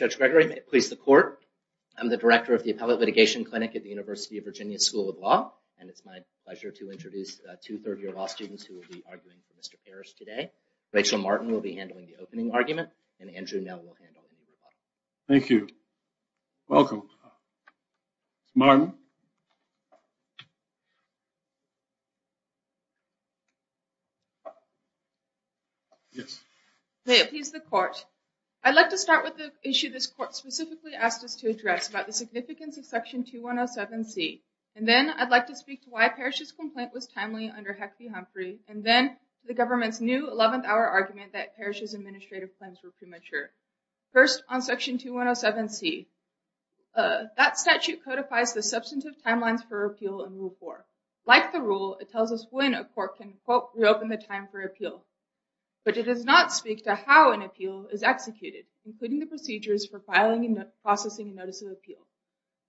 Judge Gregory, may it please the court, I'm the director of the Appellate Litigation Clinic at the University of Virginia School of Law, and it's my pleasure to introduce two third-year law students who will be arguing for Mr. Parrish today. Rachel Martin will be handling the opening argument, and Andrew Nell will handle the ruling. Thank you. Welcome. Martin. Yes. May it please the court. I'd like to start with the issue this court specifically asked us to address about the significance of Section 2107C. And then I'd like to speak to why Parrish's complaint was timely under Heffrey-Humphrey, and then the government's new 11th hour argument that Parrish's administrative plans were premature. First, on Section 2107C, that statute codifies the substantive timelines for appeal in Rule 4. Like the rule, it tells us when a court can, quote, reopen the time for appeal. But it does not speak to how an appeal is executed, including the procedures for filing and processing a notice of appeal.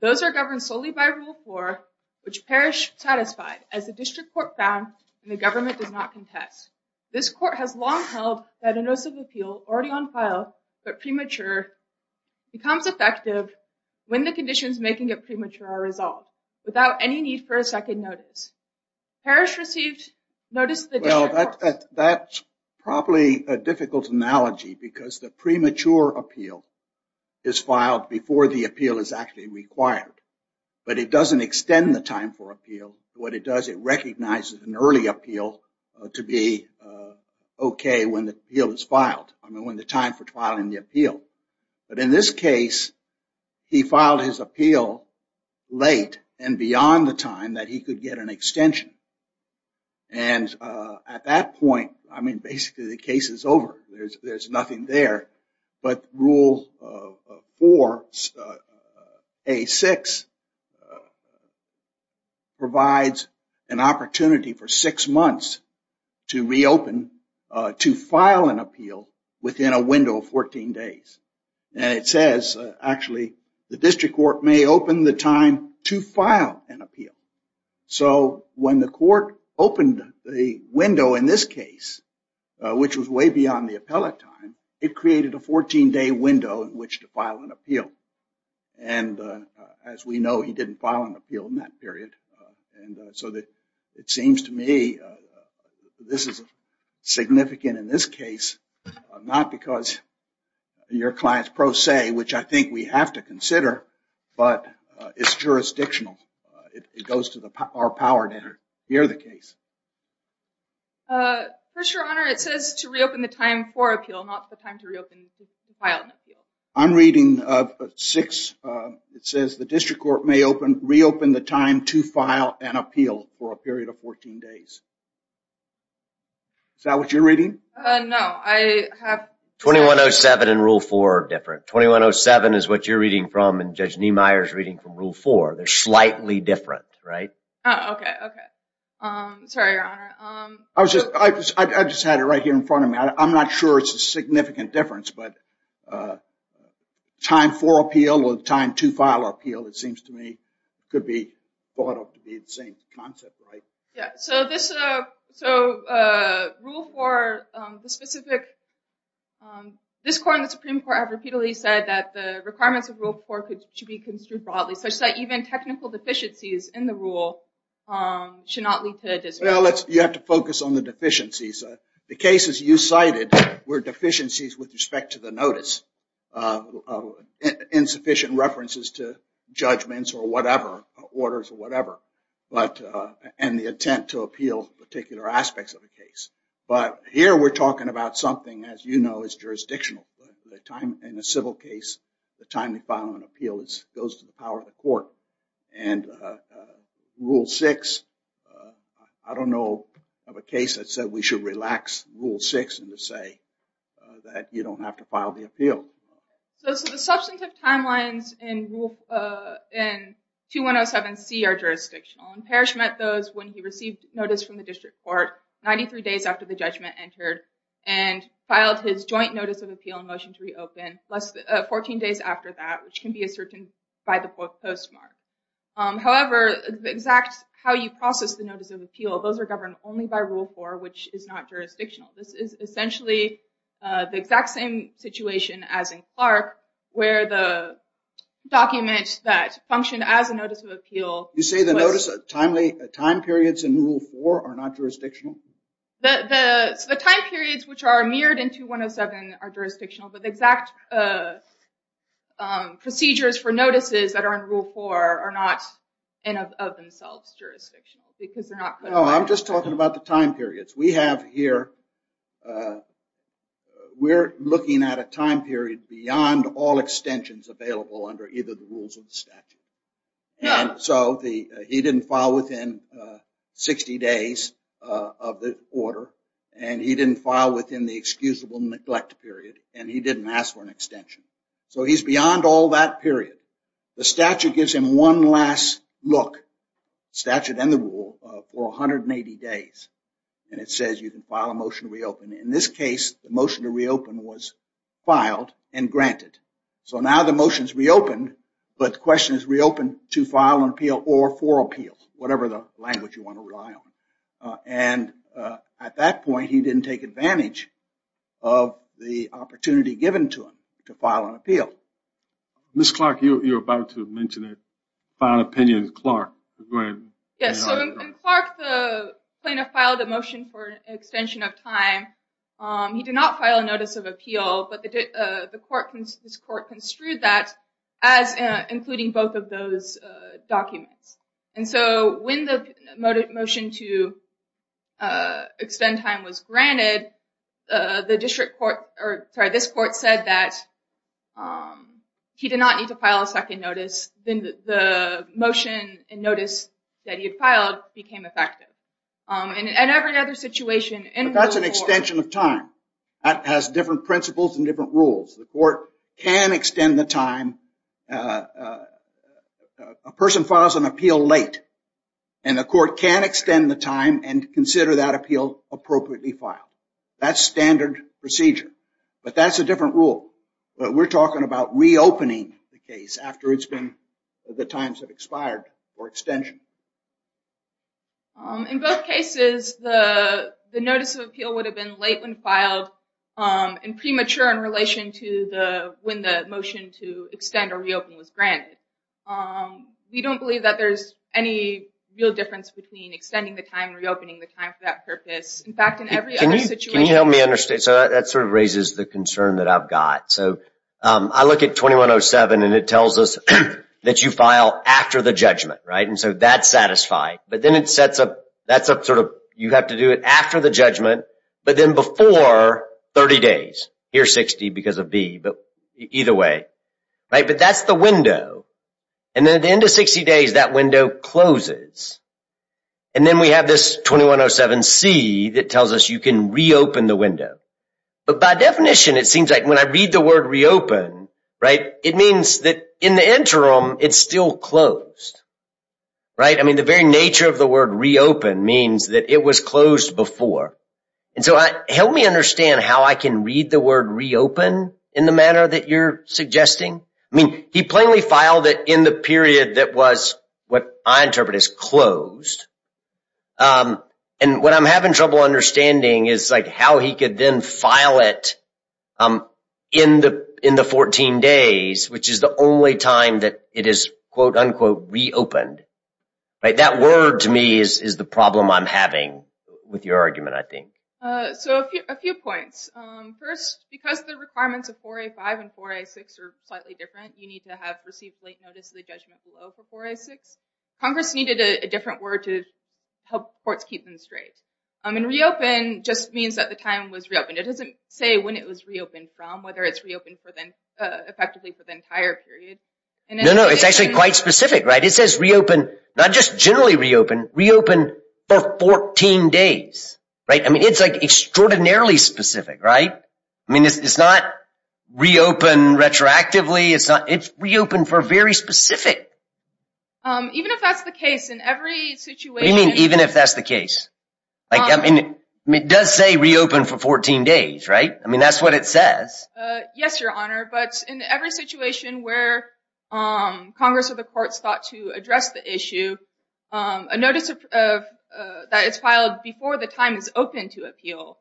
Those are governed solely by Rule 4, which Parrish satisfied, as the district court found and the government does not contest. This court has long held that a notice of appeal, already on file, but premature, becomes effective when the conditions making it premature are resolved, without any need for a second notice. Parrish received notice of the district court. That's probably a difficult analogy, because the premature appeal is filed before the appeal is actually required. But it doesn't extend the time for appeal. What it does, it recognizes an early appeal to be okay when the appeal is filed. I mean, when the time for filing the appeal. But in this case, he filed his appeal late and beyond the time that he could get an extension. And at that point, I mean, basically the case is over. There's nothing there. But Rule 4, A6, provides an opportunity for six months to reopen, to file an appeal, within a window of 14 days. And it says, actually, the district court may open the time to file an appeal. So when the court opened the window in this case, which was way beyond the appellate time, it created a 14-day window in which to file an appeal. And as we know, he didn't file an appeal in that period. And so it seems to me, this is significant in this case, not because your client's pro se, which I think we have to consider, but it's jurisdictional. It goes to our power to hear the case. First, Your Honor, it says to reopen the time for appeal, not the time to reopen, to file an appeal. I'm reading 6. It says the district court may reopen the time to file an appeal for a period of 14 days. Is that what you're reading? No, I have- 2107 and Rule 4 are different. 2107 is what you're reading from and Judge Niemeyer's reading from Rule 4. They're slightly different, right? Oh, okay, okay. Sorry, Your Honor. I was just, I just had it right here in front of me. I'm not sure it's a significant difference, but time for appeal or time to file appeal, it seems to me, could be thought of to be the same concept, right? Yeah, so this, so Rule 4, the specific, this court and the Supreme Court have repeatedly said that the requirements of Rule 4 should be construed broadly, such that even technical deficiencies in the rule should not be heard as well. You have to focus on the deficiencies. The cases you cited were deficiencies with respect to the notice. Insufficient references to judgments or whatever, orders or whatever, and the attempt to appeal particular aspects of the case. But here we're talking about something, as you know, is jurisdictional. the time to file an appeal goes to the power of the court. And Rule 6, I don't know of a case that said we should relax Rule 6 and just say that you don't have to file the appeal. So the substantive timelines in Rule, in 2107C are jurisdictional. And Parrish met those when he received notice from the district court, 93 days after the judgment entered, and filed his joint notice of appeal and motion to reopen less than 14 days after that, which can be ascertained by the postmark. However, the exact how you process the notice of appeal, those are governed only by Rule 4, which is not jurisdictional. This is essentially the exact same situation as in Clark, where the document that functioned as a notice of appeal. You say the notice of timely time periods in Rule 4 are not jurisdictional? The time periods which are mirrored in 2107 are jurisdictional, but the exact procedures for notices that are in Rule 4 are not in and of themselves jurisdictional, because they're not- No, I'm just talking about the time periods. We have here, we're looking at a time period beyond all extensions available under either the rules of the statute. No. So he didn't file within 60 days of the order, and he didn't file within the excusable neglect period, and he didn't ask for an extension. So he's beyond all that period. The statute gives him one last look, statute and the rule, for 180 days, and it says you can file a motion to reopen. In this case, the motion to reopen was filed and granted. So now the motion's reopened, but the question is reopened to file an appeal or for appeal, whatever the language you want to rely on. And at that point, he didn't take advantage of the opportunity given to him to file an appeal. Ms. Clark, you were about to mention that file an opinion with Clark. Yes, so in Clark, the plaintiff filed a motion for an extension of time. He did not file a notice of appeal, but this court construed that as including both of those documents. And so when the motion to extend time was granted, the district court, or sorry, this court said that he did not need to file a second notice. Then the motion and notice that he had filed became effective. And every other situation in rule four- But that's an extension of time. That has different principles and different rules. The court can extend the time. A person files an appeal late, and the court can extend the time and consider that appeal appropriately filed. That's standard procedure, but that's a different rule. But we're talking about reopening the case after it's been, the times have expired for extension. In both cases, the notice of appeal would have been late when filed and premature in relation to the, when the motion to extend or reopen was granted. We don't believe that there's any real difference between extending the time and reopening the time for that purpose. In fact, in every other situation- Can you help me understand? So that sort of raises the concern that I've got. So I look at 2107 and it tells us that you file after the judgment, right? And so that's satisfied, but then it sets up, that's a sort of, you have to do it after the judgment, but then before 30 days. Here's 60 because of B, but either way, right? But that's the window. And then at the end of 60 days, that window closes. And then we have this 2107C that tells us you can reopen the window. But by definition, it seems like when I read the word reopen, right? It means that in the interim, it's still closed, right? I mean, the very nature of the word reopen means that it was closed before. And so help me understand how I can read the word reopen in the manner that you're suggesting. I mean, he plainly filed it in the period that was what I interpret as closed. And what I'm having trouble understanding is like how he could then file it in the 14 days, which is the only time that it is quote unquote reopened. Right, that word to me is the problem I'm having with your argument, I think. So a few points. First, because the requirements of 4A5 and 4A6 are slightly different, you need to have received late notice of the judgment below for 4A6. Congress needed a different word to help courts keep them straight. I mean, reopen just means that the time was reopened. It doesn't say when it was reopened from, whether it's reopened effectively for the entire period. No, no, it's actually quite specific, right? It says reopen, not just generally reopen, reopen for 14 days, right? I mean, it's like extraordinarily specific, right? I mean, it's not reopen retroactively. It's reopen for very specific. Even if that's the case, in every situation- What do you mean, even if that's the case? Like, I mean, it does say reopen for 14 days, right? I mean, that's what it says. Yes, Your Honor, but in every situation where Congress or the courts thought to address the issue, a notice that is filed before the time is open to appeal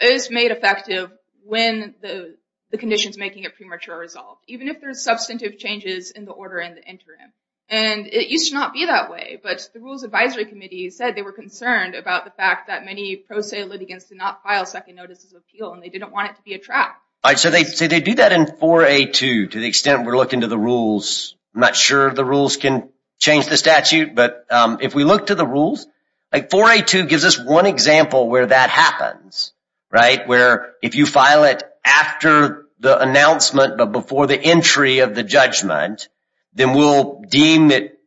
is made effective when the condition's making a premature resolve. Even if there's substantive changes in the order and the interim. And it used to not be that way, but the Rules Advisory Committee said they were concerned about the fact that many pro se litigants did not file second notices of appeal and they didn't want it to be a trap. All right, so they do that in 4A2, to the extent we're looking to the rules. I'm not sure the rules can change the statute, but if we look to the rules, like 4A2 gives us one example where that happens, right? Where if you file it after the announcement, but before the entry of the judgment, then we'll deem it,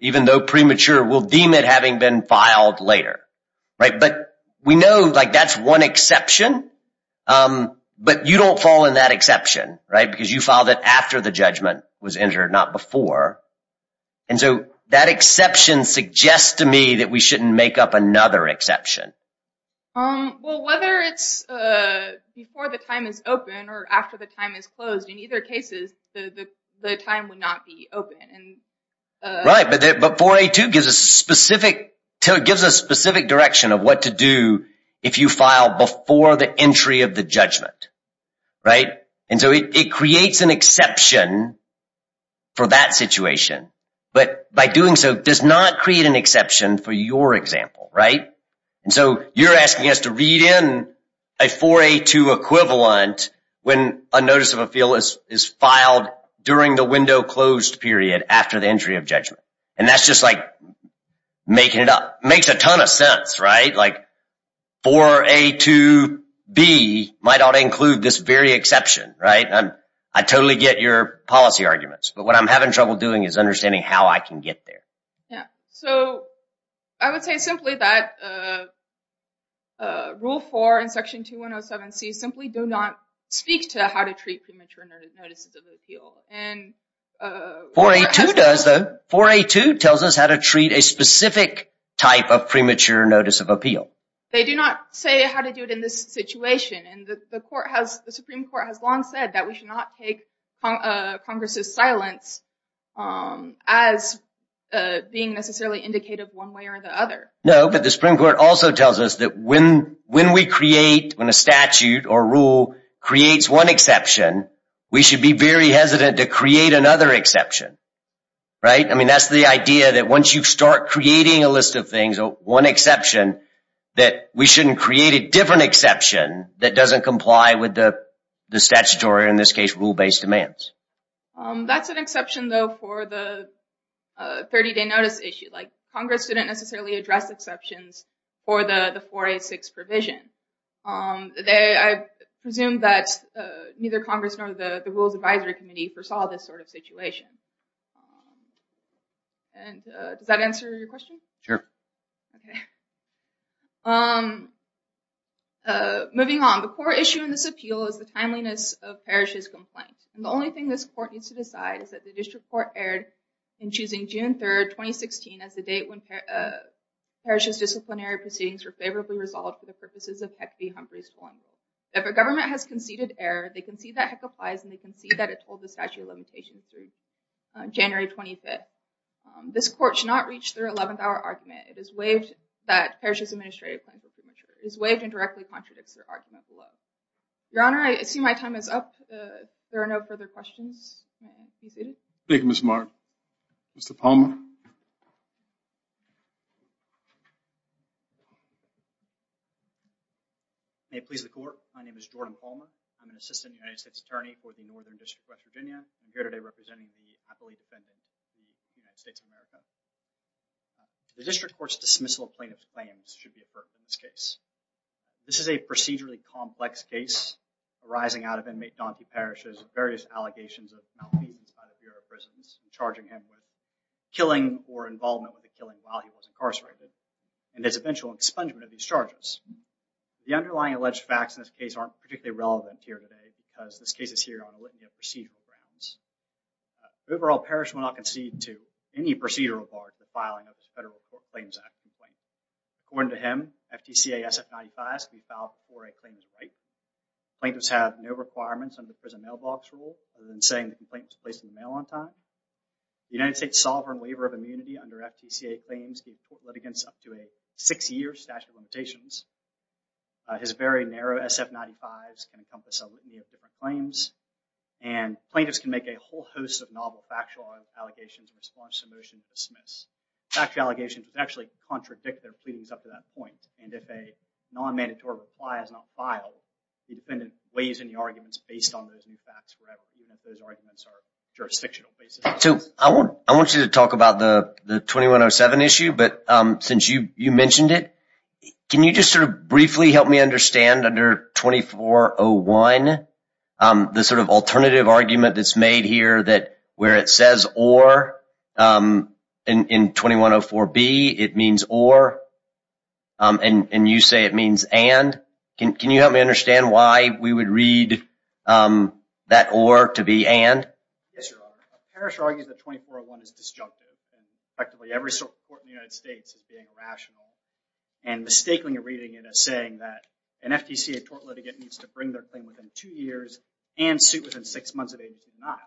even though premature, we'll deem it having been filed later, right? But we know like that's one exception, but you don't fall in that exception, right? Because you filed it after the judgment was entered, not before. And so that exception suggests to me that we shouldn't make up another exception. Well, whether it's before the time is open or after the time is closed, in either cases, the time would not be open. Right, but 4A2 gives a specific, gives a specific direction of what to do if you file before the entry of the judgment, right? And so it creates an exception for that situation, but by doing so does not create an exception for your example, right? And so you're asking us to read in a 4A2 equivalent when a notice of appeal is filed during the window closed period after the entry of judgment. And that's just like making it up, makes a ton of sense, right? Like 4A2B might all include this very exception, right? I totally get your policy arguments, but what I'm having trouble doing is understanding how I can get there. Yeah, so I would say simply that Rule 4 in Section 2107C simply do not speak to how to treat premature notices of appeal. And- 4A2 does though. 4A2 tells us how to treat a specific type of premature notice of appeal. They do not say how to do it in this situation. And the Supreme Court has long said that we should not take Congress's silence as being necessarily indicative one way or the other. No, but the Supreme Court also tells us that when we create, when a statute or rule creates one exception, we should be very hesitant to create another exception. Right? I mean, that's the idea that once you start creating a list of things, one exception, that we shouldn't create a different exception that doesn't comply with the statutory, in this case, rule-based demands. That's an exception though for the 30-day notice issue. Like Congress didn't necessarily address exceptions for the 4A6 provision. I presume that neither Congress nor the Rules Advisory Committee foresaw this sort of situation. And does that answer your question? Sure. Okay. Moving on, the core issue in this appeal is the timeliness of parishes' complaints. And the only thing this court needs to decide is that the district court erred in choosing June 3rd, 2016 as the date when parishes' disciplinary proceedings were favorably resolved for the purposes of HEC v. Humphrey's formula. If a government has conceded error, they concede that HEC applies and they concede that it told the statute of limitations through January 25th. This court should not reach their 11th-hour argument. It is waived that parishes' administrative claims are premature. It is waived and directly contradicts their argument below. Your Honor, I assume my time is up. There are no further questions. You're seated. Thank you, Ms. Martin. Mr. Palmer. May it please the court. My name is Jordan Palmer. I'm an assistant United States attorney for the Northern District of West Virginia. I'm here today representing the appellee defendant in the United States of America. The district court's dismissal of plaintiff's claims should be averted in this case. This is a procedurally complex case arising out of inmate Donkey Parrish's various allegations of malmeasance by the Bureau of Prisons, charging him with killing or involvement with the killing while he was incarcerated, and his eventual expungement of these charges. The underlying alleged facts in this case aren't particularly relevant here today because this case is here on a litany of procedural grounds. Overall, Parrish will not concede to any procedural bar to the filing of his Federal Court Claims Act complaint. According to him, FTCA SF95 has to be filed before a claim is right. Plaintiffs have no requirements under the prison mailbox rule other than saying the complaint was placed in the mail on time. The United States Sovereign Waiver of Immunity under FTCA claims gives court litigants up to a six-year statute of limitations. His very narrow SF95s can encompass a litany of different claims, and plaintiffs can make a whole host of novel factual allegations in response to motions dismissed. Factual allegations would actually contradict their pleadings up to that point, and if a non-mandatory reply is not filed, the defendant weighs in the arguments based on those new facts wherever, even if those arguments are jurisdictional basis. So I want you to talk about the 2107 issue, but since you mentioned it, can you just sort of briefly help me understand under 2401 the sort of alternative argument that's made here that where it says or in 2104B, it means or, and you say it means and? Can you help me understand why we would read that or to be and? Yes, Your Honor. A parish argues that 2401 is disjunctive, and effectively every court in the United States is being irrational, and mistaking a reading in a saying that an FTCA tort litigant needs to bring their claim within two years and suit within six months of age denial.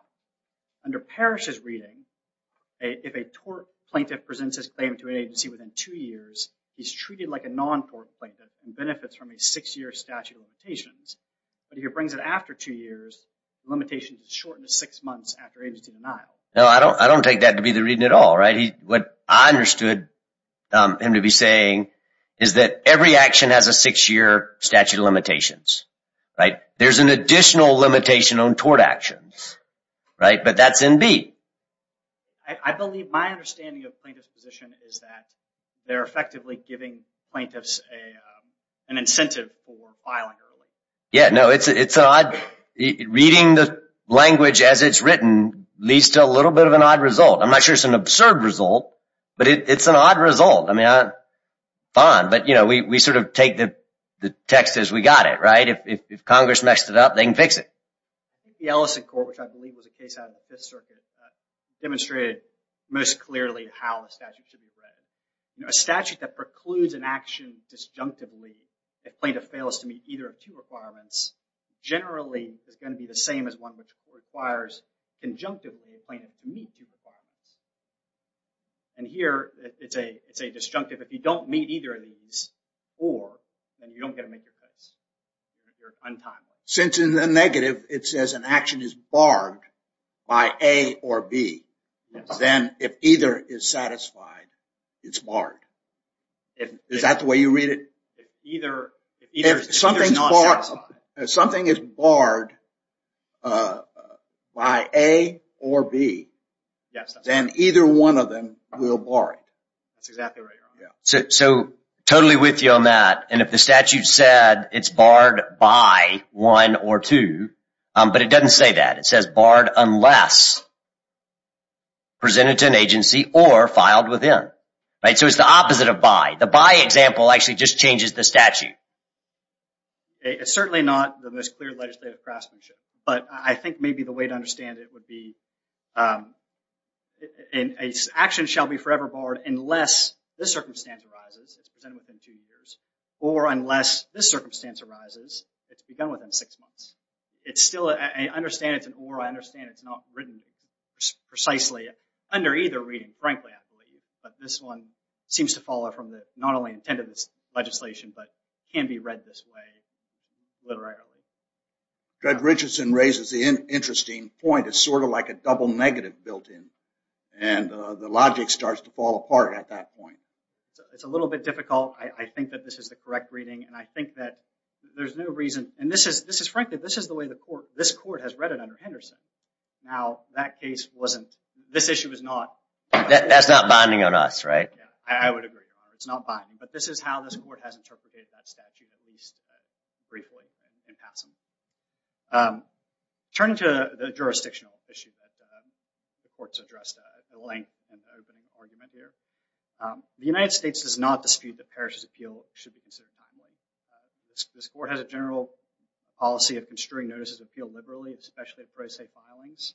Under parish's reading, if a tort plaintiff presents his claim to an agency within two years, he's treated like a non-tort plaintiff and benefits from a six-year statute of limitations, but if he brings it after two years, the limitation is shortened to six months after agency denial. No, I don't take that to be the reading at all, right? What I understood him to be saying is that every action has a six-year statute of limitations. There's an additional limitation on tort actions, right? But that's in B. I believe my understanding of plaintiff's position is that they're effectively giving plaintiffs an incentive for filing early. Yeah, no, it's odd. Reading the language as it's written leads to a little bit of an odd result. I'm not sure it's an absurd result, but it's an odd result. I mean, fine, but we sort of take the text as we got it, right? If Congress messed it up, they can fix it. The Ellison Court, which I believe was a case out of the Fifth Circuit, demonstrated most clearly how a statute should be read. A statute that precludes an action disjunctively if plaintiff fails to meet either of two requirements generally is gonna be the same as one which requires conjunctively a plaintiff to meet two requirements. And here, it's a disjunctive. If you don't meet either of these, or, then you don't get to make your case. You're untimely. Since in the negative, it says an action is barred by A or B, then if either is satisfied, it's barred. Is that the way you read it? If either is not satisfied. If something is barred by A or B, then either one of them will bar it. That's exactly right, Your Honor. So, totally with you on that. And if the statute said it's barred by one or two, but it doesn't say that. It says barred unless presented to an agency or filed within. So, it's the opposite of by. The by example actually just changes the statute. It's certainly not the most clear legislative craftsmanship. But I think maybe the way to understand it would be, action shall be forever barred unless this circumstance arises. It's presented within two years. Or unless this circumstance arises, it's begun within six months. It's still, I understand it's an or. I understand it's not written precisely. Under either reading, frankly, I believe. But this one seems to follow from the, not only intended legislation, but can be read this way, literarily. Judge Richardson raises the interesting point. It's sort of like a double negative built in. And the logic starts to fall apart at that point. It's a little bit difficult. I think that this is the correct reading. And I think that there's no reason, and this is, frankly, this is the way the court, this court has read it under Henderson. Now, that case wasn't, this issue is not. That's not binding on us, right? I would agree, it's not binding. But this is how this court has interpreted that statute, at least briefly and passively. Turning to the jurisdictional issue that the courts addressed at length in the opening argument there. The United States does not dispute that Parrish's appeal should be considered timely. This court has a general policy of construing notices of appeal liberally, especially at pro se filings.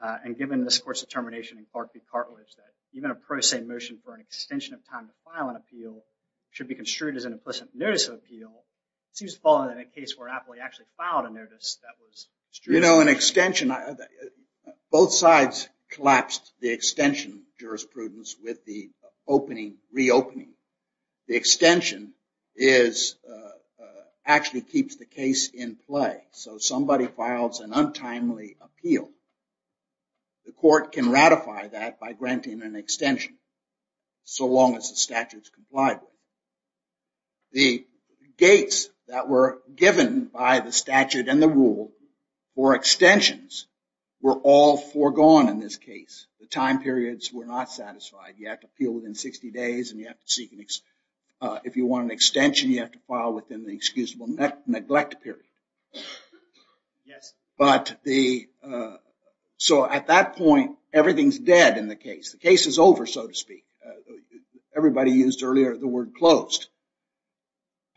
And given this court's determination in Clark v. Cartlidge that even a pro se motion for an extension of time to file an appeal should be construed as an implicit notice of appeal, it seems to fall into the case where Appley actually filed a notice that was. You know, an extension, both sides collapsed the extension jurisprudence with the opening, reopening. The extension is, actually keeps the case in play. So somebody files an untimely appeal. The court can ratify that by granting an extension so long as the statute's complied with. The gates that were given by the statute and the rule for extensions were all foregone in this case. The time periods were not satisfied. You have to appeal within 60 days and you have to seek an extension. If you want an extension, you have to file within the excusable neglect period. But the, so at that point, everything's dead in the case. The case is over, so to speak. Everybody used earlier the word closed.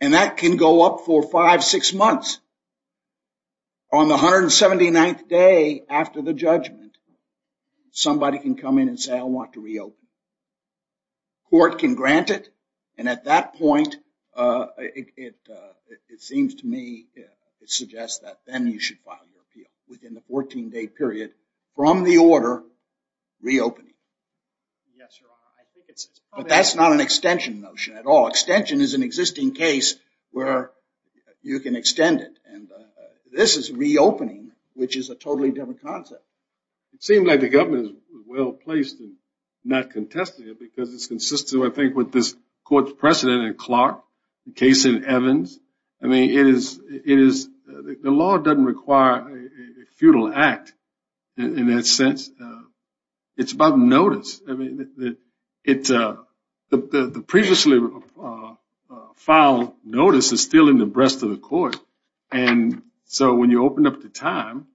And that can go up for five, six months. On the 179th day after the judgment, somebody can come in and say, I want to reopen. Court can grant it. And at that point, it seems to me, it suggests that then you should file your appeal within the 14 day period from the order reopening. Yes, Your Honor, I think it's probably- But that's not an extension notion at all. Extension is an existing case where you can extend it. And this is reopening, which is a totally different concept. It seemed like the government was well-placed in not contesting it because it's consistent, I think, with this court's precedent in Clark, the case in Evans. I mean, it is, the law doesn't require a futile act in that sense. It's about notice. I mean, the previously filed notice is still in the breast of the court. And so when you open up the time,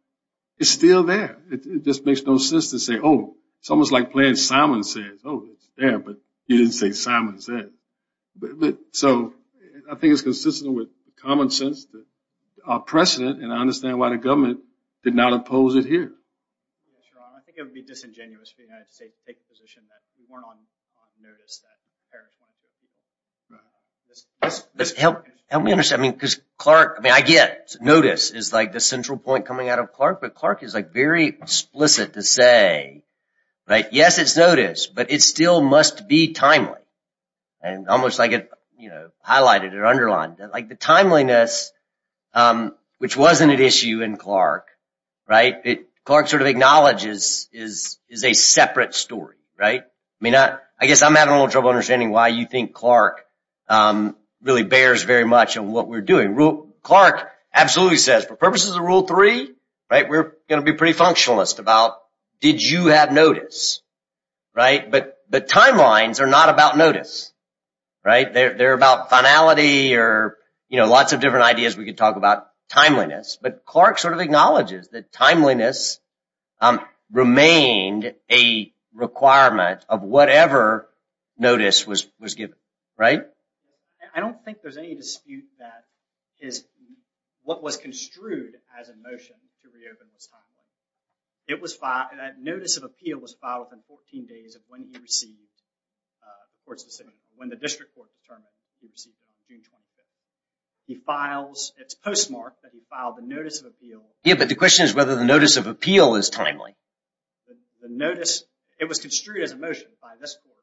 it's still there. It just makes no sense to say, oh, it's almost like playing Simon Says. Oh, it's there, but you didn't say Simon Says. But so I think it's consistent with common sense, that our precedent, and I understand why the government did not oppose it here. Yes, Your Honor, I think it would be disingenuous for the United States to take a position that we weren't on notice that Harris wanted to reopen. Right. This helped me understand, I mean, because Clark, I mean, I get notice is like the central point coming out of Clark, but Clark is like very explicit to say, right? Yes, it's notice, but it still must be timely. And almost like it, you know, highlighted or underlined like the timeliness, which wasn't an issue in Clark, right? Clark sort of acknowledges is a separate story, right? I mean, I guess I'm having a little trouble understanding why you think Clark really bears very much on what we're doing. Clark absolutely says for purposes of rule three, right? We're gonna be pretty functionalist about, did you have notice, right? But the timelines are not about notice, right? They're about finality or, you know, lots of different ideas we could talk about timeliness, but Clark sort of acknowledges that timeliness remained a requirement of whatever notice was given, right? I don't think there's any dispute that is, what was construed as a motion to reopen this timeline. It was filed, that notice of appeal was filed within 14 days of when he received the court's decision, when the district court determined he received it on June 25th. He files, it's postmarked that he filed a notice of appeal. Yeah, but the question is whether the notice of appeal is timely. The notice, it was construed as a motion by this court.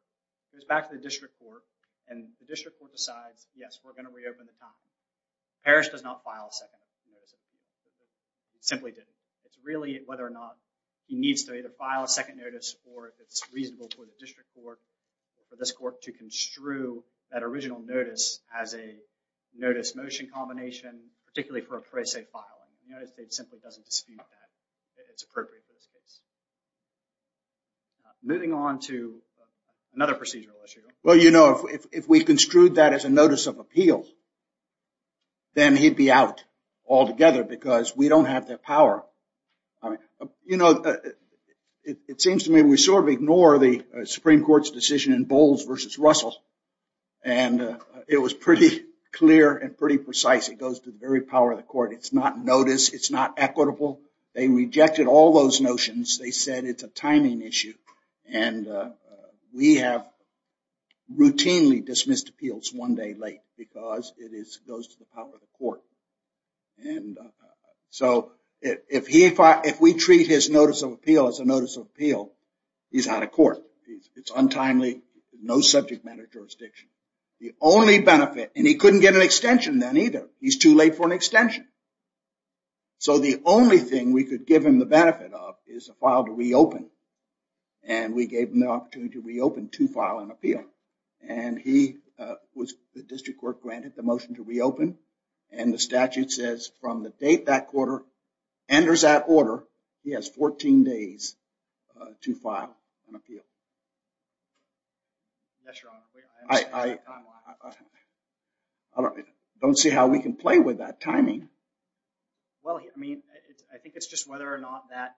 It was back to the district court and the district court decides, yes, we're gonna reopen the timeline. Parrish does not file a second notice of appeal. He simply didn't. It's really whether or not he needs to either file a second notice or if it's reasonable for the district court or this court to construe that original notice as a notice motion combination, particularly for a prese filing. The United States simply doesn't dispute that it's appropriate for this case. Moving on to another procedural issue. Well, you know, if we construed that as a notice of appeal, then he'd be out altogether because we don't have the power. You know, it seems to me we sort of ignore the Supreme Court's decision in Bowles versus Russell. And it was pretty clear and pretty precise. It goes to the very power of the court. It's not notice, it's not equitable. They rejected all those notions. They said it's a timing issue. And we have routinely dismissed appeals one day late because it goes to the power of the court. And so if we treat his notice of appeal as a notice of appeal, he's out of court. It's untimely, no subject matter jurisdiction. The only benefit, and he couldn't get an extension then either. He's too late for an extension. So the only thing we could give him the benefit of is a file to reopen. And we gave him the opportunity to reopen to file an appeal. And he was, the district court granted the motion to reopen. And the statute says from the date that quarter enters that order, he has 14 days to file an appeal. Yes, Your Honor. I don't see how we can play with that timing. Well, I mean, I think it's just whether or not that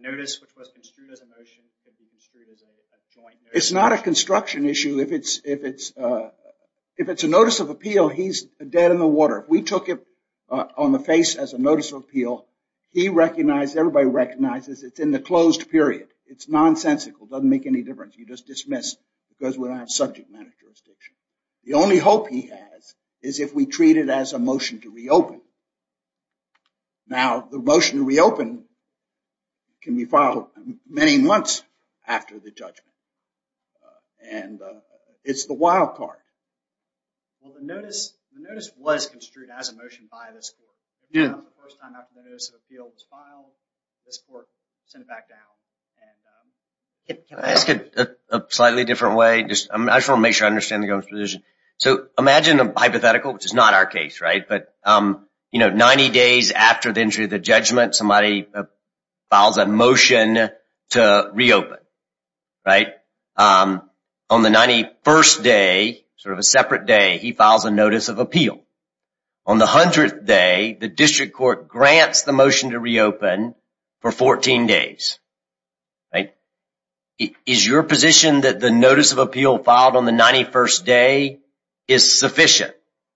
notice which was construed as a motion can be construed as a joint notice. It's not a construction issue. If it's a notice of appeal, he's dead in the water. We took it on the face as a notice of appeal. He recognized, everybody recognizes it's in the closed period. It's nonsensical, doesn't make any difference. You just dismiss because we don't have subject matter jurisdiction. The only hope he has is if we treat it as a motion to reopen. Now, the motion to reopen can be filed many months after the judgment. And it's the wild card. Well, the notice was construed as a motion by this court. The first time after the notice of appeal was filed, this court sent it back down. Can I ask it a slightly different way? I just wanna make sure I understand the government's position. So imagine a hypothetical, which is not our case, right? But 90 days after the entry of the judgment, somebody files a motion to reopen, right? On the 91st day, sort of a separate day, he files a notice of appeal. On the 100th day, the district court grants the motion to reopen for 14 days, right? Is your position that the notice of appeal filed on the 91st day is sufficient?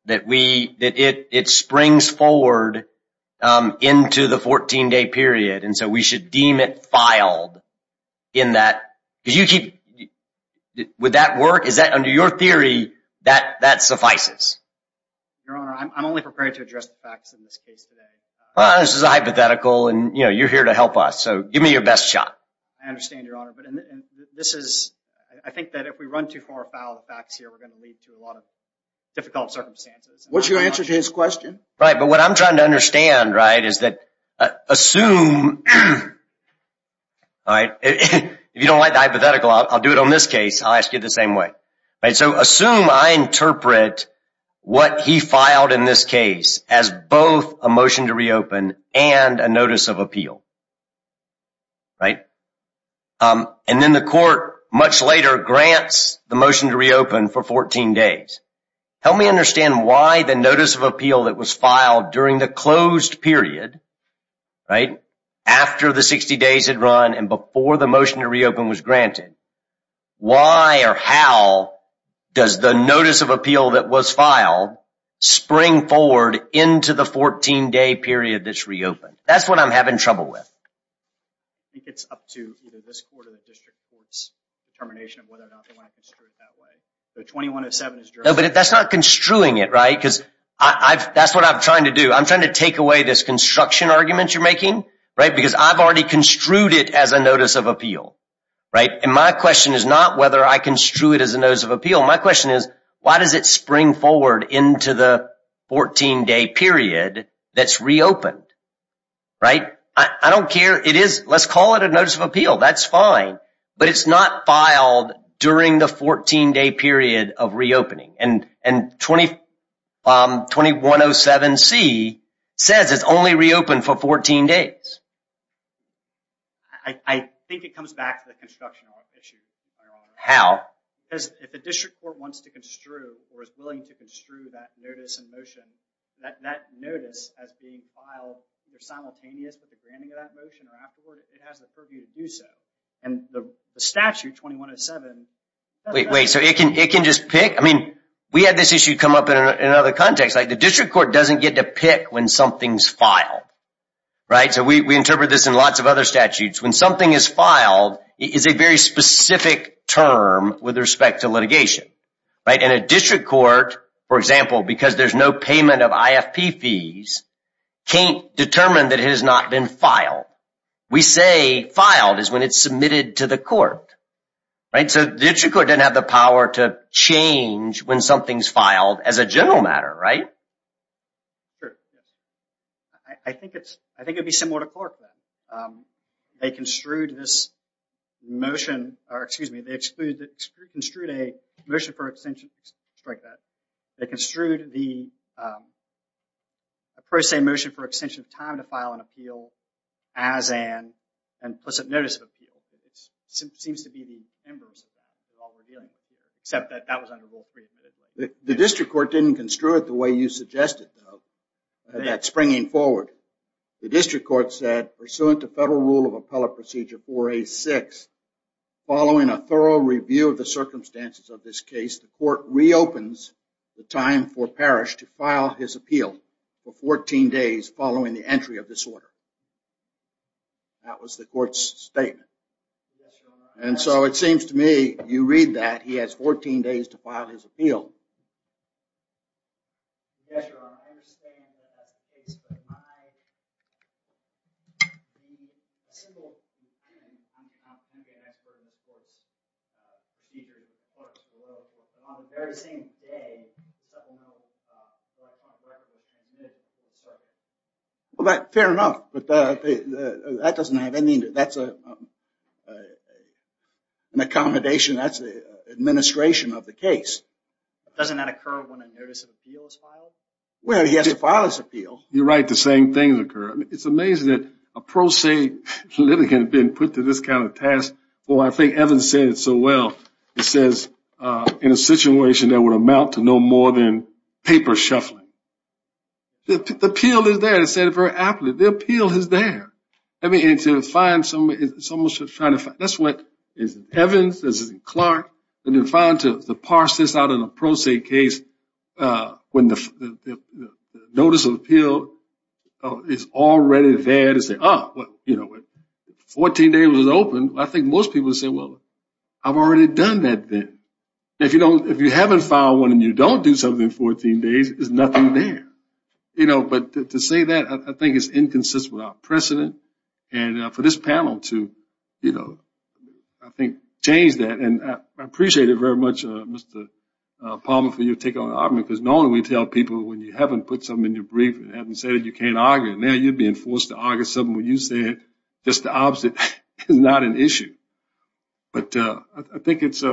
That it springs forward into the 14-day period, and so we should deem it filed in that, because you keep, would that work? Is that, under your theory, that suffices? Your Honor, I'm only prepared to address the facts in this case today. Well, this is a hypothetical, and you're here to help us, so give me your best shot. I understand, Your Honor, but this is, I think that if we run too far afoul of facts here, we're gonna lead to a lot of difficult circumstances. What's your answer to his question? Right, but what I'm trying to understand, right, is that assume, all right, if you don't like the hypothetical, I'll do it on this case, I'll ask you the same way. Right, so assume I interpret what he filed in this case as both a motion to reopen and a notice of appeal, right? And then the court, much later, grants the motion to reopen for 14 days. Help me understand why the notice of appeal that was filed during the closed period, right, after the 60 days had run and before the motion to reopen was granted, why or how does the notice of appeal that was filed spring forward into the 14-day period that's reopened? That's what I'm having trouble with. I think it's up to either this court or the district court's determination of whether or not they want to construe it that way. So 2107 is generally- No, but that's not construing it, right, because that's what I'm trying to do. I'm trying to take away this construction argument you're making, right, because I've already construed it as a notice of appeal, right, and my question is not whether I construe it as a notice of appeal. My question is, why does it spring forward into the 14-day period that's reopened, right? I don't care, it is, let's call it a notice of appeal. That's fine, but it's not filed during the 14-day period of reopening, and 2107C says it's only reopened for 14 days. I think it comes back to the construction issue, Your Honor. How? Because if the district court wants to construe or is willing to construe that notice and motion, that notice as being filed, they're simultaneous with the granting of that motion or afterward, it has the purview to do so, and the statute, 2107, doesn't have that. Wait, wait, so it can just pick? I mean, we had this issue come up in another context, like the district court doesn't get to pick when something's filed, right? So we interpret this in lots of other statutes. When something is filed, it is a very specific term with respect to litigation, right? And a district court, for example, because there's no payment of IFP fees, can't determine that it has not been filed. We say filed is when it's submitted to the court, right? So the district court doesn't have the power to change when something's filed as a general matter, right? Sure, yes. I think it'd be similar to court then. They construed this motion, or excuse me, they construed a motion for extension, strike that. They construed the pro se motion for extension of time to file an appeal as an implicit notice of appeal. It seems to be the embers of that, that's all we're dealing with, except that that was under Rule 3. The district court didn't construe it the way you suggested, though, that springing forward. The district court said, pursuant to Federal Rule of Appellate Procedure 4A6, following a thorough review of the circumstances of this case, the court reopens the time for Parrish to file his appeal for 14 days following the entry of this order. That was the court's statement. And so it seems to me, you read that, he has 14 days to file his appeal. Yes, Your Honor, I understand that that's the case, but my, simple and unconfident, I'm an expert in the court's, features of the court's rules, and on the very same day, supplemental request on record was submitted to the district court. Well, fair enough, but that doesn't have any, that's a, an accommodation, that's the administration of the case. Doesn't that occur when a notice of appeal is filed? Well, he has to file his appeal. You're right, the same things occur. It's amazing that a pro se litigant can have been put to this kind of task. Well, I think Evans said it so well. He says, in a situation that would amount to no more than paper shuffling. The appeal is there, he said it very aptly. The appeal is there. I mean, and to find someone, someone should try to find, that's what is in Evans, this is in Clark, and to find, to parse this out in a pro se case, when the notice of appeal is already there to say, ah, well, you know, 14 days was open, I think most people would say, well, I've already done that then. If you don't, if you haven't filed one and you don't do something in 14 days, there's nothing there. You know, but to say that, I think it's inconsistent with our precedent, and for this panel to, you know, I think change that, and I appreciate it very much, Mr. Palmer, for your take on the argument, because normally we tell people when you haven't put something in your brief and haven't said it, you can't argue, and now you're being forced to argue something when you said just the opposite is not an issue. But I think it's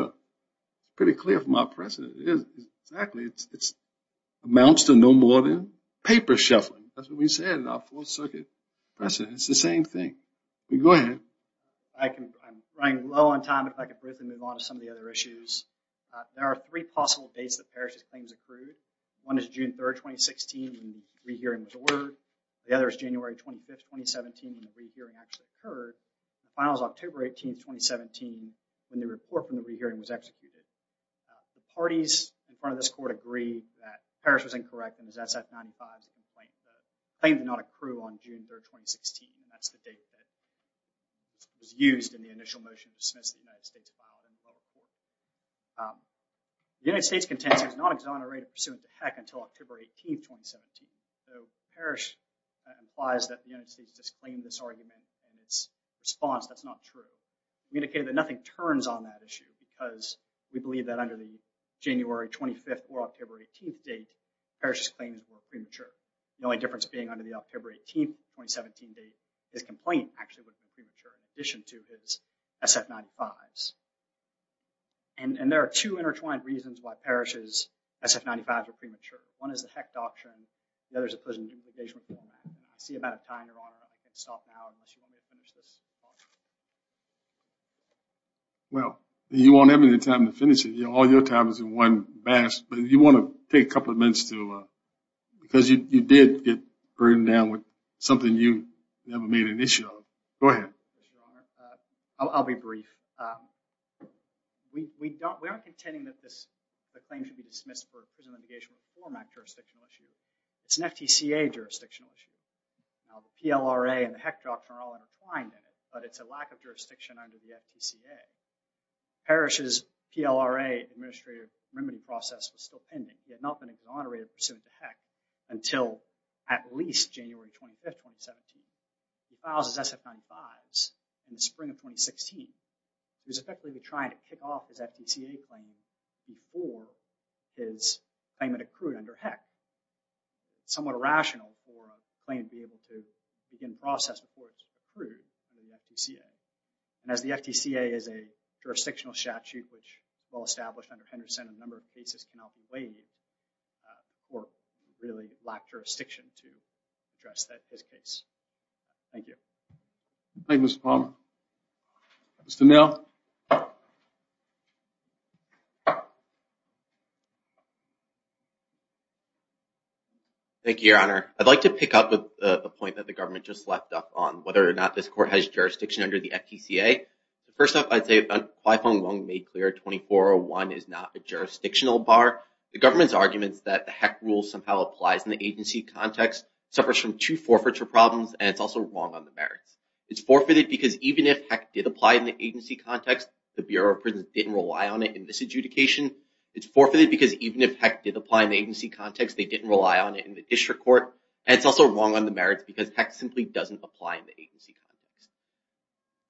pretty clear from our precedent, it is exactly, it amounts to no more than paper shuffling. That's what we said in our Fourth Circuit precedent. It's the same thing. Go ahead. I can, I'm running low on time, if I could briefly move on to some of the other issues. There are three possible dates that Parrish's claims accrued. One is June 3rd, 2016, when the re-hearing was ordered. The other is January 25th, 2017, when the re-hearing actually occurred. The final is October 18th, 2017, when the report from the re-hearing was executed. The parties in front of this court agreed that Parrish was incorrect, and his SF-95's complaint did not accrue on June 3rd, 2016, and that's the date that was used in the initial motion to dismiss the United States file in the public court. The United States contender does not exonerate a pursuant to HEC until October 18th, 2017. So Parrish implies that the United States disclaimed this argument, and its response, that's not true. We indicated that nothing turns on that issue, because we believe that under the January 25th or October 18th date, Parrish's claims were premature. The only difference being under the October 18th, 2017 date, his complaint actually was premature, in addition to his SF-95's. And there are two intertwined reasons why Parrish's SF-95's are premature. One is the HEC doctrine, the other is the prison litigation reform act. I see about a time, Your Honor, I'm gonna stop now, unless you want me to finish this. Well, you won't have any time to finish it. All your time is in one batch, but if you want to take a couple of minutes to, because you did get burned down with something you never made an issue of. Go ahead. I'll be brief. We aren't contending that the claim should be dismissed for a prison litigation reform act jurisdictional issue. It's an FTCA jurisdictional issue. Now, the PLRA and the HEC doctrine are all intertwined in it, but it's a lack of jurisdiction under the FTCA. Parrish's PLRA administrative remedy process was still pending. He had not been exonerated pursuant to HEC until at least January 25th, 2017. He files his SF-95's in the spring of 2016. He was effectively trying to kick off his FTCA claim before his claim had accrued under HEC. Somewhat irrational for a claim to be able to begin process before it's accrued in the FTCA. And as the FTCA is a jurisdictional statute, which well established under Henderson, a number of cases cannot be weighed or really lack jurisdiction to address that, this case. Thank you. Thank you, Mr. Palmer. Mr. Neal. Thank you, Your Honor. I'd like to pick up with the point that the government just left up on, whether or not this court has jurisdiction under the FTCA. First off, I'd say, if I find one made clear, 2401 is not a jurisdictional bar. The government's arguments that the HEC rules somehow applies in the agency context suffers from two forfeiture problems, and it's also wrong on the merits. It's forfeited because even if HEC did apply the Bureau of Prisons didn't rely on it in this adjudication. So, it's not a jurisdictional bar. It's forfeited because even if HEC did apply in the agency context, they didn't rely on it in the district court. And it's also wrong on the merits because HEC simply doesn't apply in the agency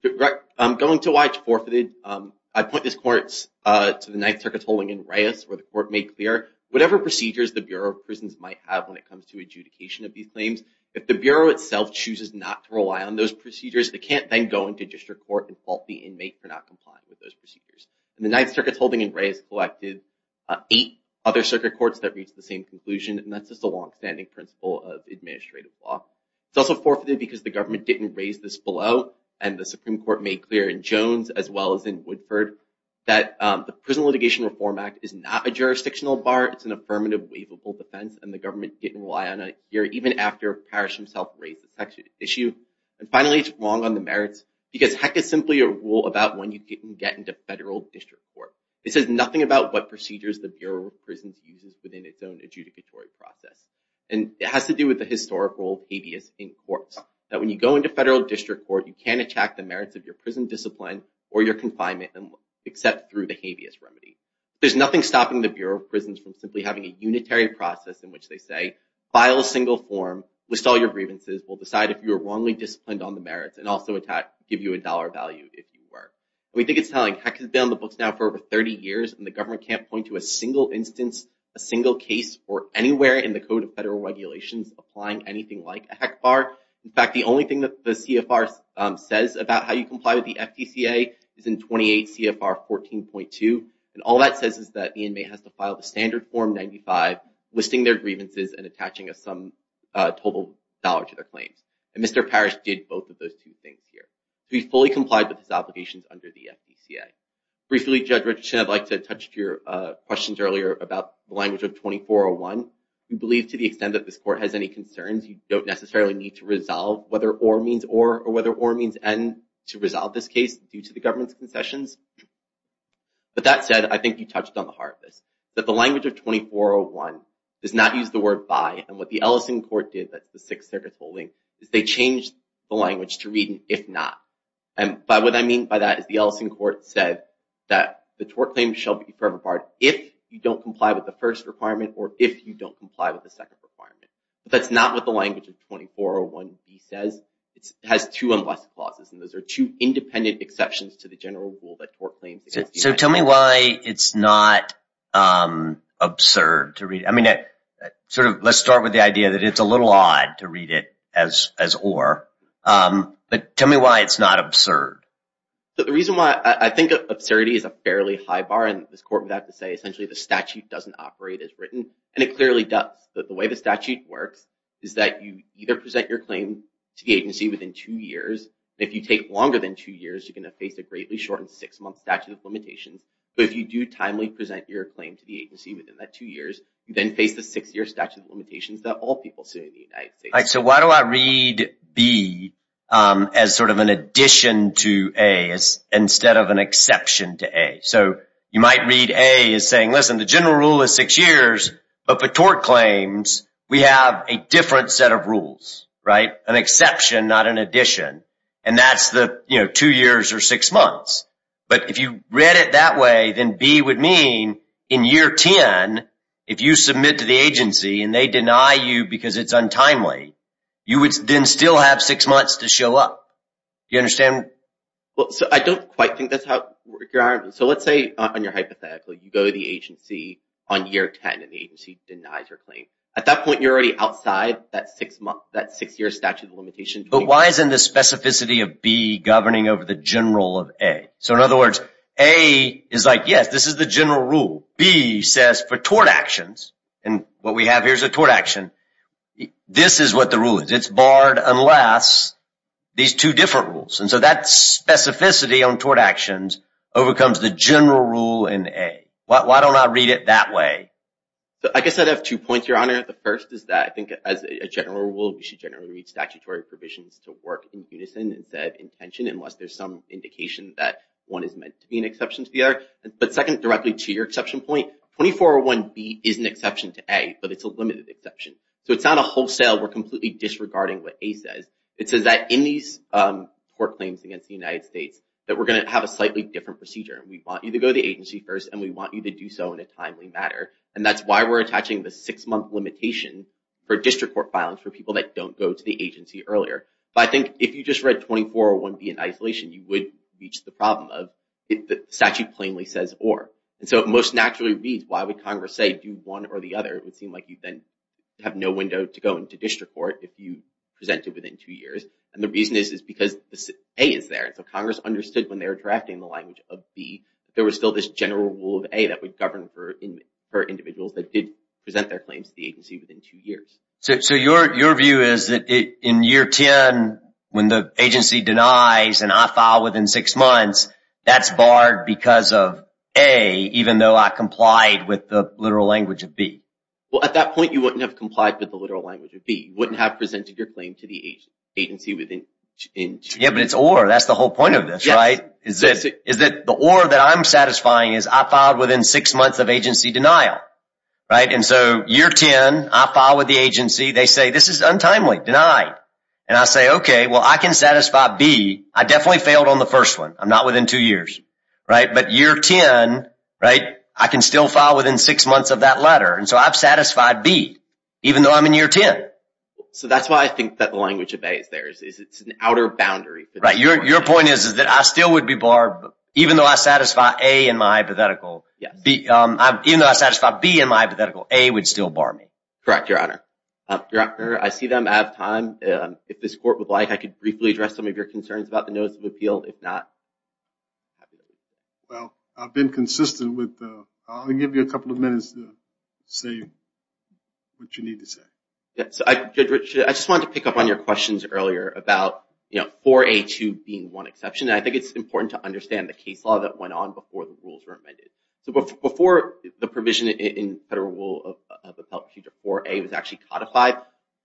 context. Going to why it's forfeited, I'd point this court to the Ninth Circuit holding in Reyes, where the court made clear, whatever procedures the Bureau of Prisons might have when it comes to adjudication of these claims, if the Bureau itself chooses not to rely on those procedures, they can't then go into district court and fault the inmate for not complying with those procedures. And the Ninth Circuit's holding in Reyes collected eight other circuit courts that reached the same conclusion, and that's just a longstanding principle of administrative law. It's also forfeited because the government didn't raise this below, and the Supreme Court made clear in Jones as well as in Woodford, that the Prison Litigation Reform Act is not a jurisdictional bar. It's an affirmative, waivable defense, and the government didn't rely on it And finally, it's wrong on the merits because HEC is simply a rule about when you can get into federal district court. It says nothing about what procedures the Bureau of Prisons uses within its own adjudicatory process. And it has to do with the historical habeas in courts, that when you go into federal district court, you can't attack the merits of your prison discipline or your confinement, except through the habeas remedy. There's nothing stopping the Bureau of Prisons from simply having a unitary process in which they say, file a single form, list all your grievances, we'll decide if you're wrongly disciplined on the merits, and also give you a dollar value if you were. We think it's telling. HEC has been on the books now for over 30 years, and the government can't point to a single instance, a single case or anywhere in the Code of Federal Regulations applying anything like a HEC bar. In fact, the only thing that the CFR says about how you comply with the FDCA is in 28 CFR 14.2. And all that says is that the inmate has to file the standard form 95, listing their grievances and attaching a sum total dollar to their claims. And Mr. Parrish did both of those two things here. He fully complied with his obligations under the FDCA. Briefly, Judge Richardson, I'd like to touch to your questions earlier about the language of 2401. We believe to the extent that this court has any concerns, you don't necessarily need to resolve whether or means or, or whether or means and to resolve this case due to the government's concessions. But that said, I think you touched on the heart of this, that the language of 2401 does not use the word by, and what the Ellison Court did, that's the Sixth Circuit's ruling, is they changed the language to read if not. And by what I mean by that is the Ellison Court said that the tort claim shall be forever barred if you don't comply with the first requirement or if you don't comply with the second requirement. That's not what the language of 2401b says. It has two unless clauses, and those are two independent exceptions to the general rule that tort claims exist. So tell me why it's not absurd to read. I mean, sort of let's start with the idea that it's a little odd to read it as or, but tell me why it's not absurd. So the reason why I think absurdity is a fairly high bar and this court would have to say essentially the statute doesn't operate as written, and it clearly does. The way the statute works is that you either present your claim to the agency within two years. If you take longer than two years, you're gonna face a greatly shortened six-month statute of limitations. But if you do timely present your claim to the agency within that two years, you then face the six-year statute of limitations that all people see in the United States. So why do I read B as sort of an addition to A instead of an exception to A? So you might read A as saying, listen, the general rule is six years, but for tort claims, we have a different set of rules, right, an exception, not an addition. And that's the two years or six months. But if you read it that way, then B would mean in year 10, if you submit to the agency and they deny you because it's untimely, you would then still have six months to show up. Do you understand? Well, so I don't quite think that's how, so let's say on your hypothetical, you go to the agency on year 10 and the agency denies your claim. At that point, you're already outside that six-year statute of limitations. But why isn't the specificity of B governing over the general of A? So in other words, A is like, yes, this is the general rule. B says for tort actions, and what we have here is a tort action. This is what the rule is. It's barred unless these two different rules. And so that specificity on tort actions overcomes the general rule in A. Why don't I read it that way? So I guess I'd have two points, Your Honor. The first is that I think as a general rule, we should generally read statutory provisions to work in unison instead of in tension, unless there's some indication that one is meant to be an exception to the other. But second, directly to your exception point, 2401B is an exception to A, but it's a limited exception. So it's not a wholesale, we're completely disregarding what A says. It says that in these court claims against the United States, that we're gonna have a slightly different procedure. We want you to go to the agency first, and we want you to do so in a timely manner. And that's why we're attaching the six-month limitation for district court filings for people that don't go to the agency earlier. But I think if you just read 2401B in isolation, you would reach the problem of the statute plainly says or. And so it most naturally reads, why would Congress say do one or the other? It would seem like you then have no window to go into district court if you present it within two years. And the reason is, is because A is there. And so Congress understood when they were drafting the language of B, there was still this general rule of A that would govern for individuals that did present their claims to the agency within two years. So your view is that in year 10, when the agency denies an off-file within six months, that's barred because of A, even though I complied with the literal language of B. Well, at that point, you wouldn't have complied with the literal language of B. You wouldn't have presented your claim to the agency within two years. Yeah, but it's or. That's the whole point of this, right? Is that the or that I'm satisfying is I filed within six months of agency denial, right? And so year 10, I filed with the agency. They say, this is untimely, denied. And I say, okay, well, I can satisfy B. I definitely failed on the first one. I'm not within two years, right? But year 10, right? I can still file within six months of that letter. And so I've satisfied B, even though I'm in year 10. So that's why I think that the language of A is there. Is it's an outer boundary. Right, your point is that I still would be barred even though I satisfy A in my hypothetical. Yes. Even though I satisfy B in my hypothetical, A would still bar me. Correct, Your Honor. Your Honor, I see that I'm out of time. If this court would like, I could briefly address some of your concerns about the notice of appeal. If not, I'd be willing to. Well, I've been consistent with, I'll give you a couple of minutes to say what you need to say. Yes, Judge Richard, I just wanted to pick up on your questions earlier about 4A2 being one exception. And I think it's important to understand the case law that went on before the rules were amended. So before the provision in federal rule of appellate future 4A was actually codified,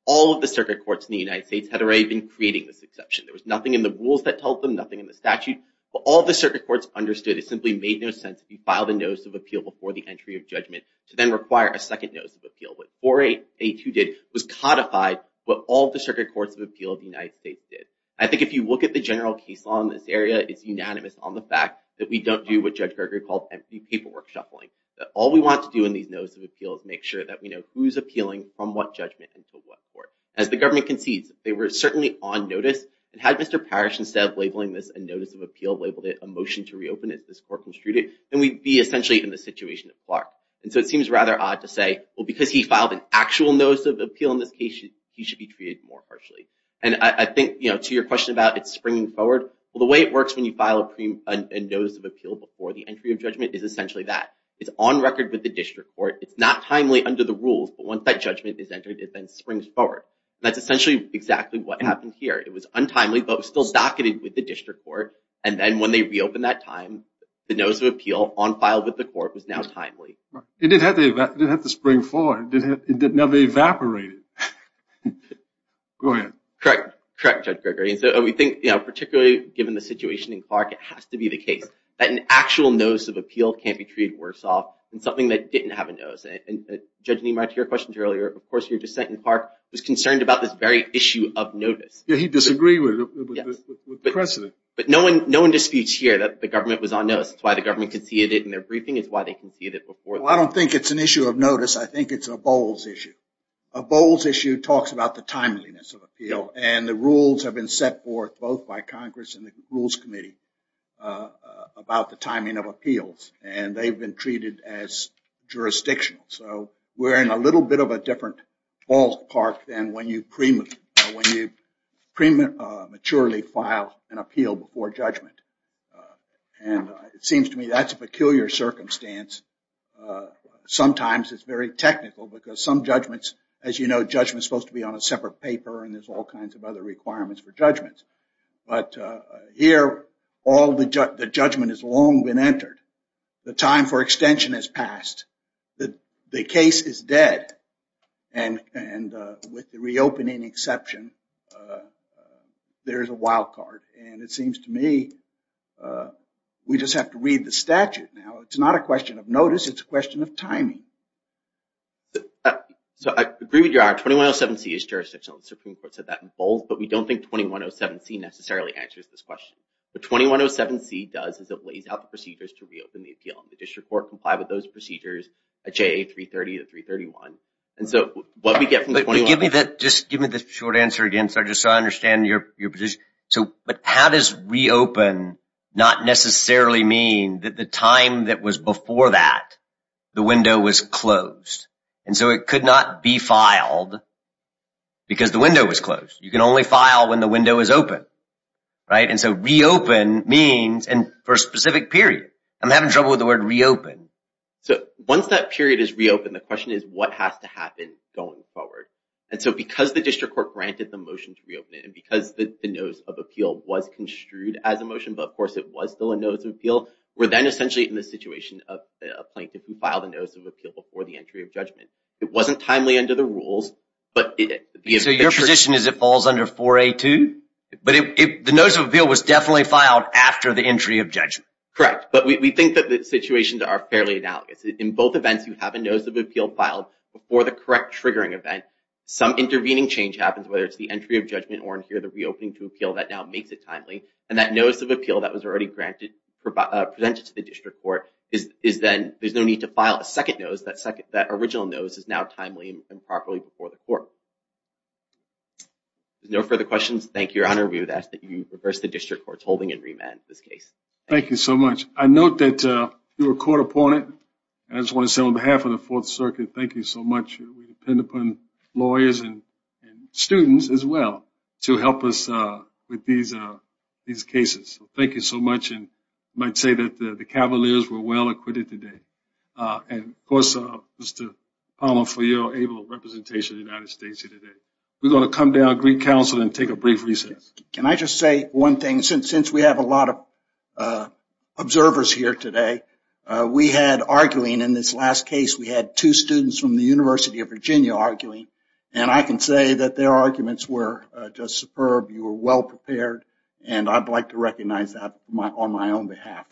all of the circuit courts in the United States had already been creating this exception. There was nothing in the rules that told them, nothing in the statute, but all of the circuit courts understood it simply made no sense if you filed a notice of appeal before the entry of judgment to then require a second notice of appeal. What 4A2 did was codified what all of the circuit courts of appeal of the United States did. I think if you look at the general case law in this area, it's unanimous on the fact that we don't do what Judge Gregory called empty paperwork shuffling. That all we want to do in these notice of appeals make sure that we know who's appealing from what judgment and to what court. As the government concedes, they were certainly on notice. And had Mr. Parrish, instead of labeling this a notice of appeal, labeled it a motion to reopen as this court construed it, then we'd be essentially in the situation of Clark. And so it seems rather odd to say, well, because he filed an actual notice of appeal in this case, he should be treated more harshly. And I think to your question about it springing forward, well, the way it works when you file a notice of appeal before the entry of judgment is essentially that. It's on record with the district court. It's not timely under the rules, but once that judgment is entered, it then springs forward. That's essentially exactly what happened here. It was untimely, but it was still docketed with the district court. And then when they reopened that time, the notice of appeal on file with the court was now timely. It did have to spring forward. It never evaporated. Go ahead. Correct, Judge Gregory. And so we think, particularly given the situation in Clark, it has to be the case that an actual notice of appeal can't be treated worse off than something that didn't have a notice. And Judge Nimar, to your question earlier, of course, your dissent in Clark was concerned about this very issue of notice. Yeah, he disagreed with the precedent. But no one disputes here that the government was on notice. It's why the government conceded it in their briefing. It's why they conceded it before. Well, I don't think it's an issue of notice. I think it's a Bowles issue. A Bowles issue talks about the timeliness of appeal. And the rules have been set forth both by Congress and the Rules Committee about the timing of appeals. And they've been treated as jurisdictional. So we're in a little bit of a different ballpark than when you prematurely file an appeal before judgment. And it seems to me that's a peculiar circumstance. Sometimes it's very technical because some judgments, as you know, judgment's supposed to be on a separate paper and there's all kinds of other requirements for judgments. But here, the judgment has long been entered. The time for extension has passed. The case is dead. And with the reopening exception, there's a wild card. And it seems to me, we just have to read the statute now. It's not a question of notice. It's a question of timing. So I agree with you. Our 2107C is jurisdictional. The Supreme Court said that in bold. But we don't think 2107C necessarily answers this question. What 2107C does is it lays out the procedures to reopen the appeal. The district court complied with those procedures at JA 330 to 331. And so what we get from the 21- But give me that, just give me the short answer again, so I just understand your position. But how does reopen not necessarily mean that the time that was before that, the window was closed? And so it could not be filed because the window was closed. You can only file when the window is open, right? And so reopen means, and for a specific period. I'm having trouble with the word reopen. So once that period is reopened, the question is what has to happen going forward? And so because the district court granted the motion to reopen it, and because the notice of appeal was construed as a motion, but of course it was still a notice of appeal, we're then essentially in the situation of a plaintiff who filed a notice of appeal before the entry of judgment. It wasn't timely under the rules, but- So your position is it falls under 4A2? But the notice of appeal was definitely filed after the entry of judgment. Correct, but we think that the situations are fairly analogous. In both events, you have a notice of appeal filed before the correct triggering event. Some intervening change happens, whether it's the entry of judgment or in here, the reopening to appeal that now makes it timely. And that notice of appeal that was already presented to the district court is then, there's no need to file a second notice. That original notice is now timely and properly before the court. No further questions. Thank you, Your Honor. We would ask that you reverse the district court's holding and remand this case. Thank you so much. I note that you're a court opponent. I just want to say on behalf of the Fourth Circuit, thank you so much. We depend upon lawyers and students as well to help us with these cases. So thank you so much. And I might say that the Cavaliers were well-acquitted today and of course, Mr. Palmer, for your able representation in the United States here today. We're going to come to our Greek counsel and take a brief recess. Can I just say one thing? Since we have a lot of observers here today, we had arguing in this last case, we had two students from the University of Virginia arguing and I can say that their arguments were just superb. You were well-prepared and I'd like to recognize that on my own behalf.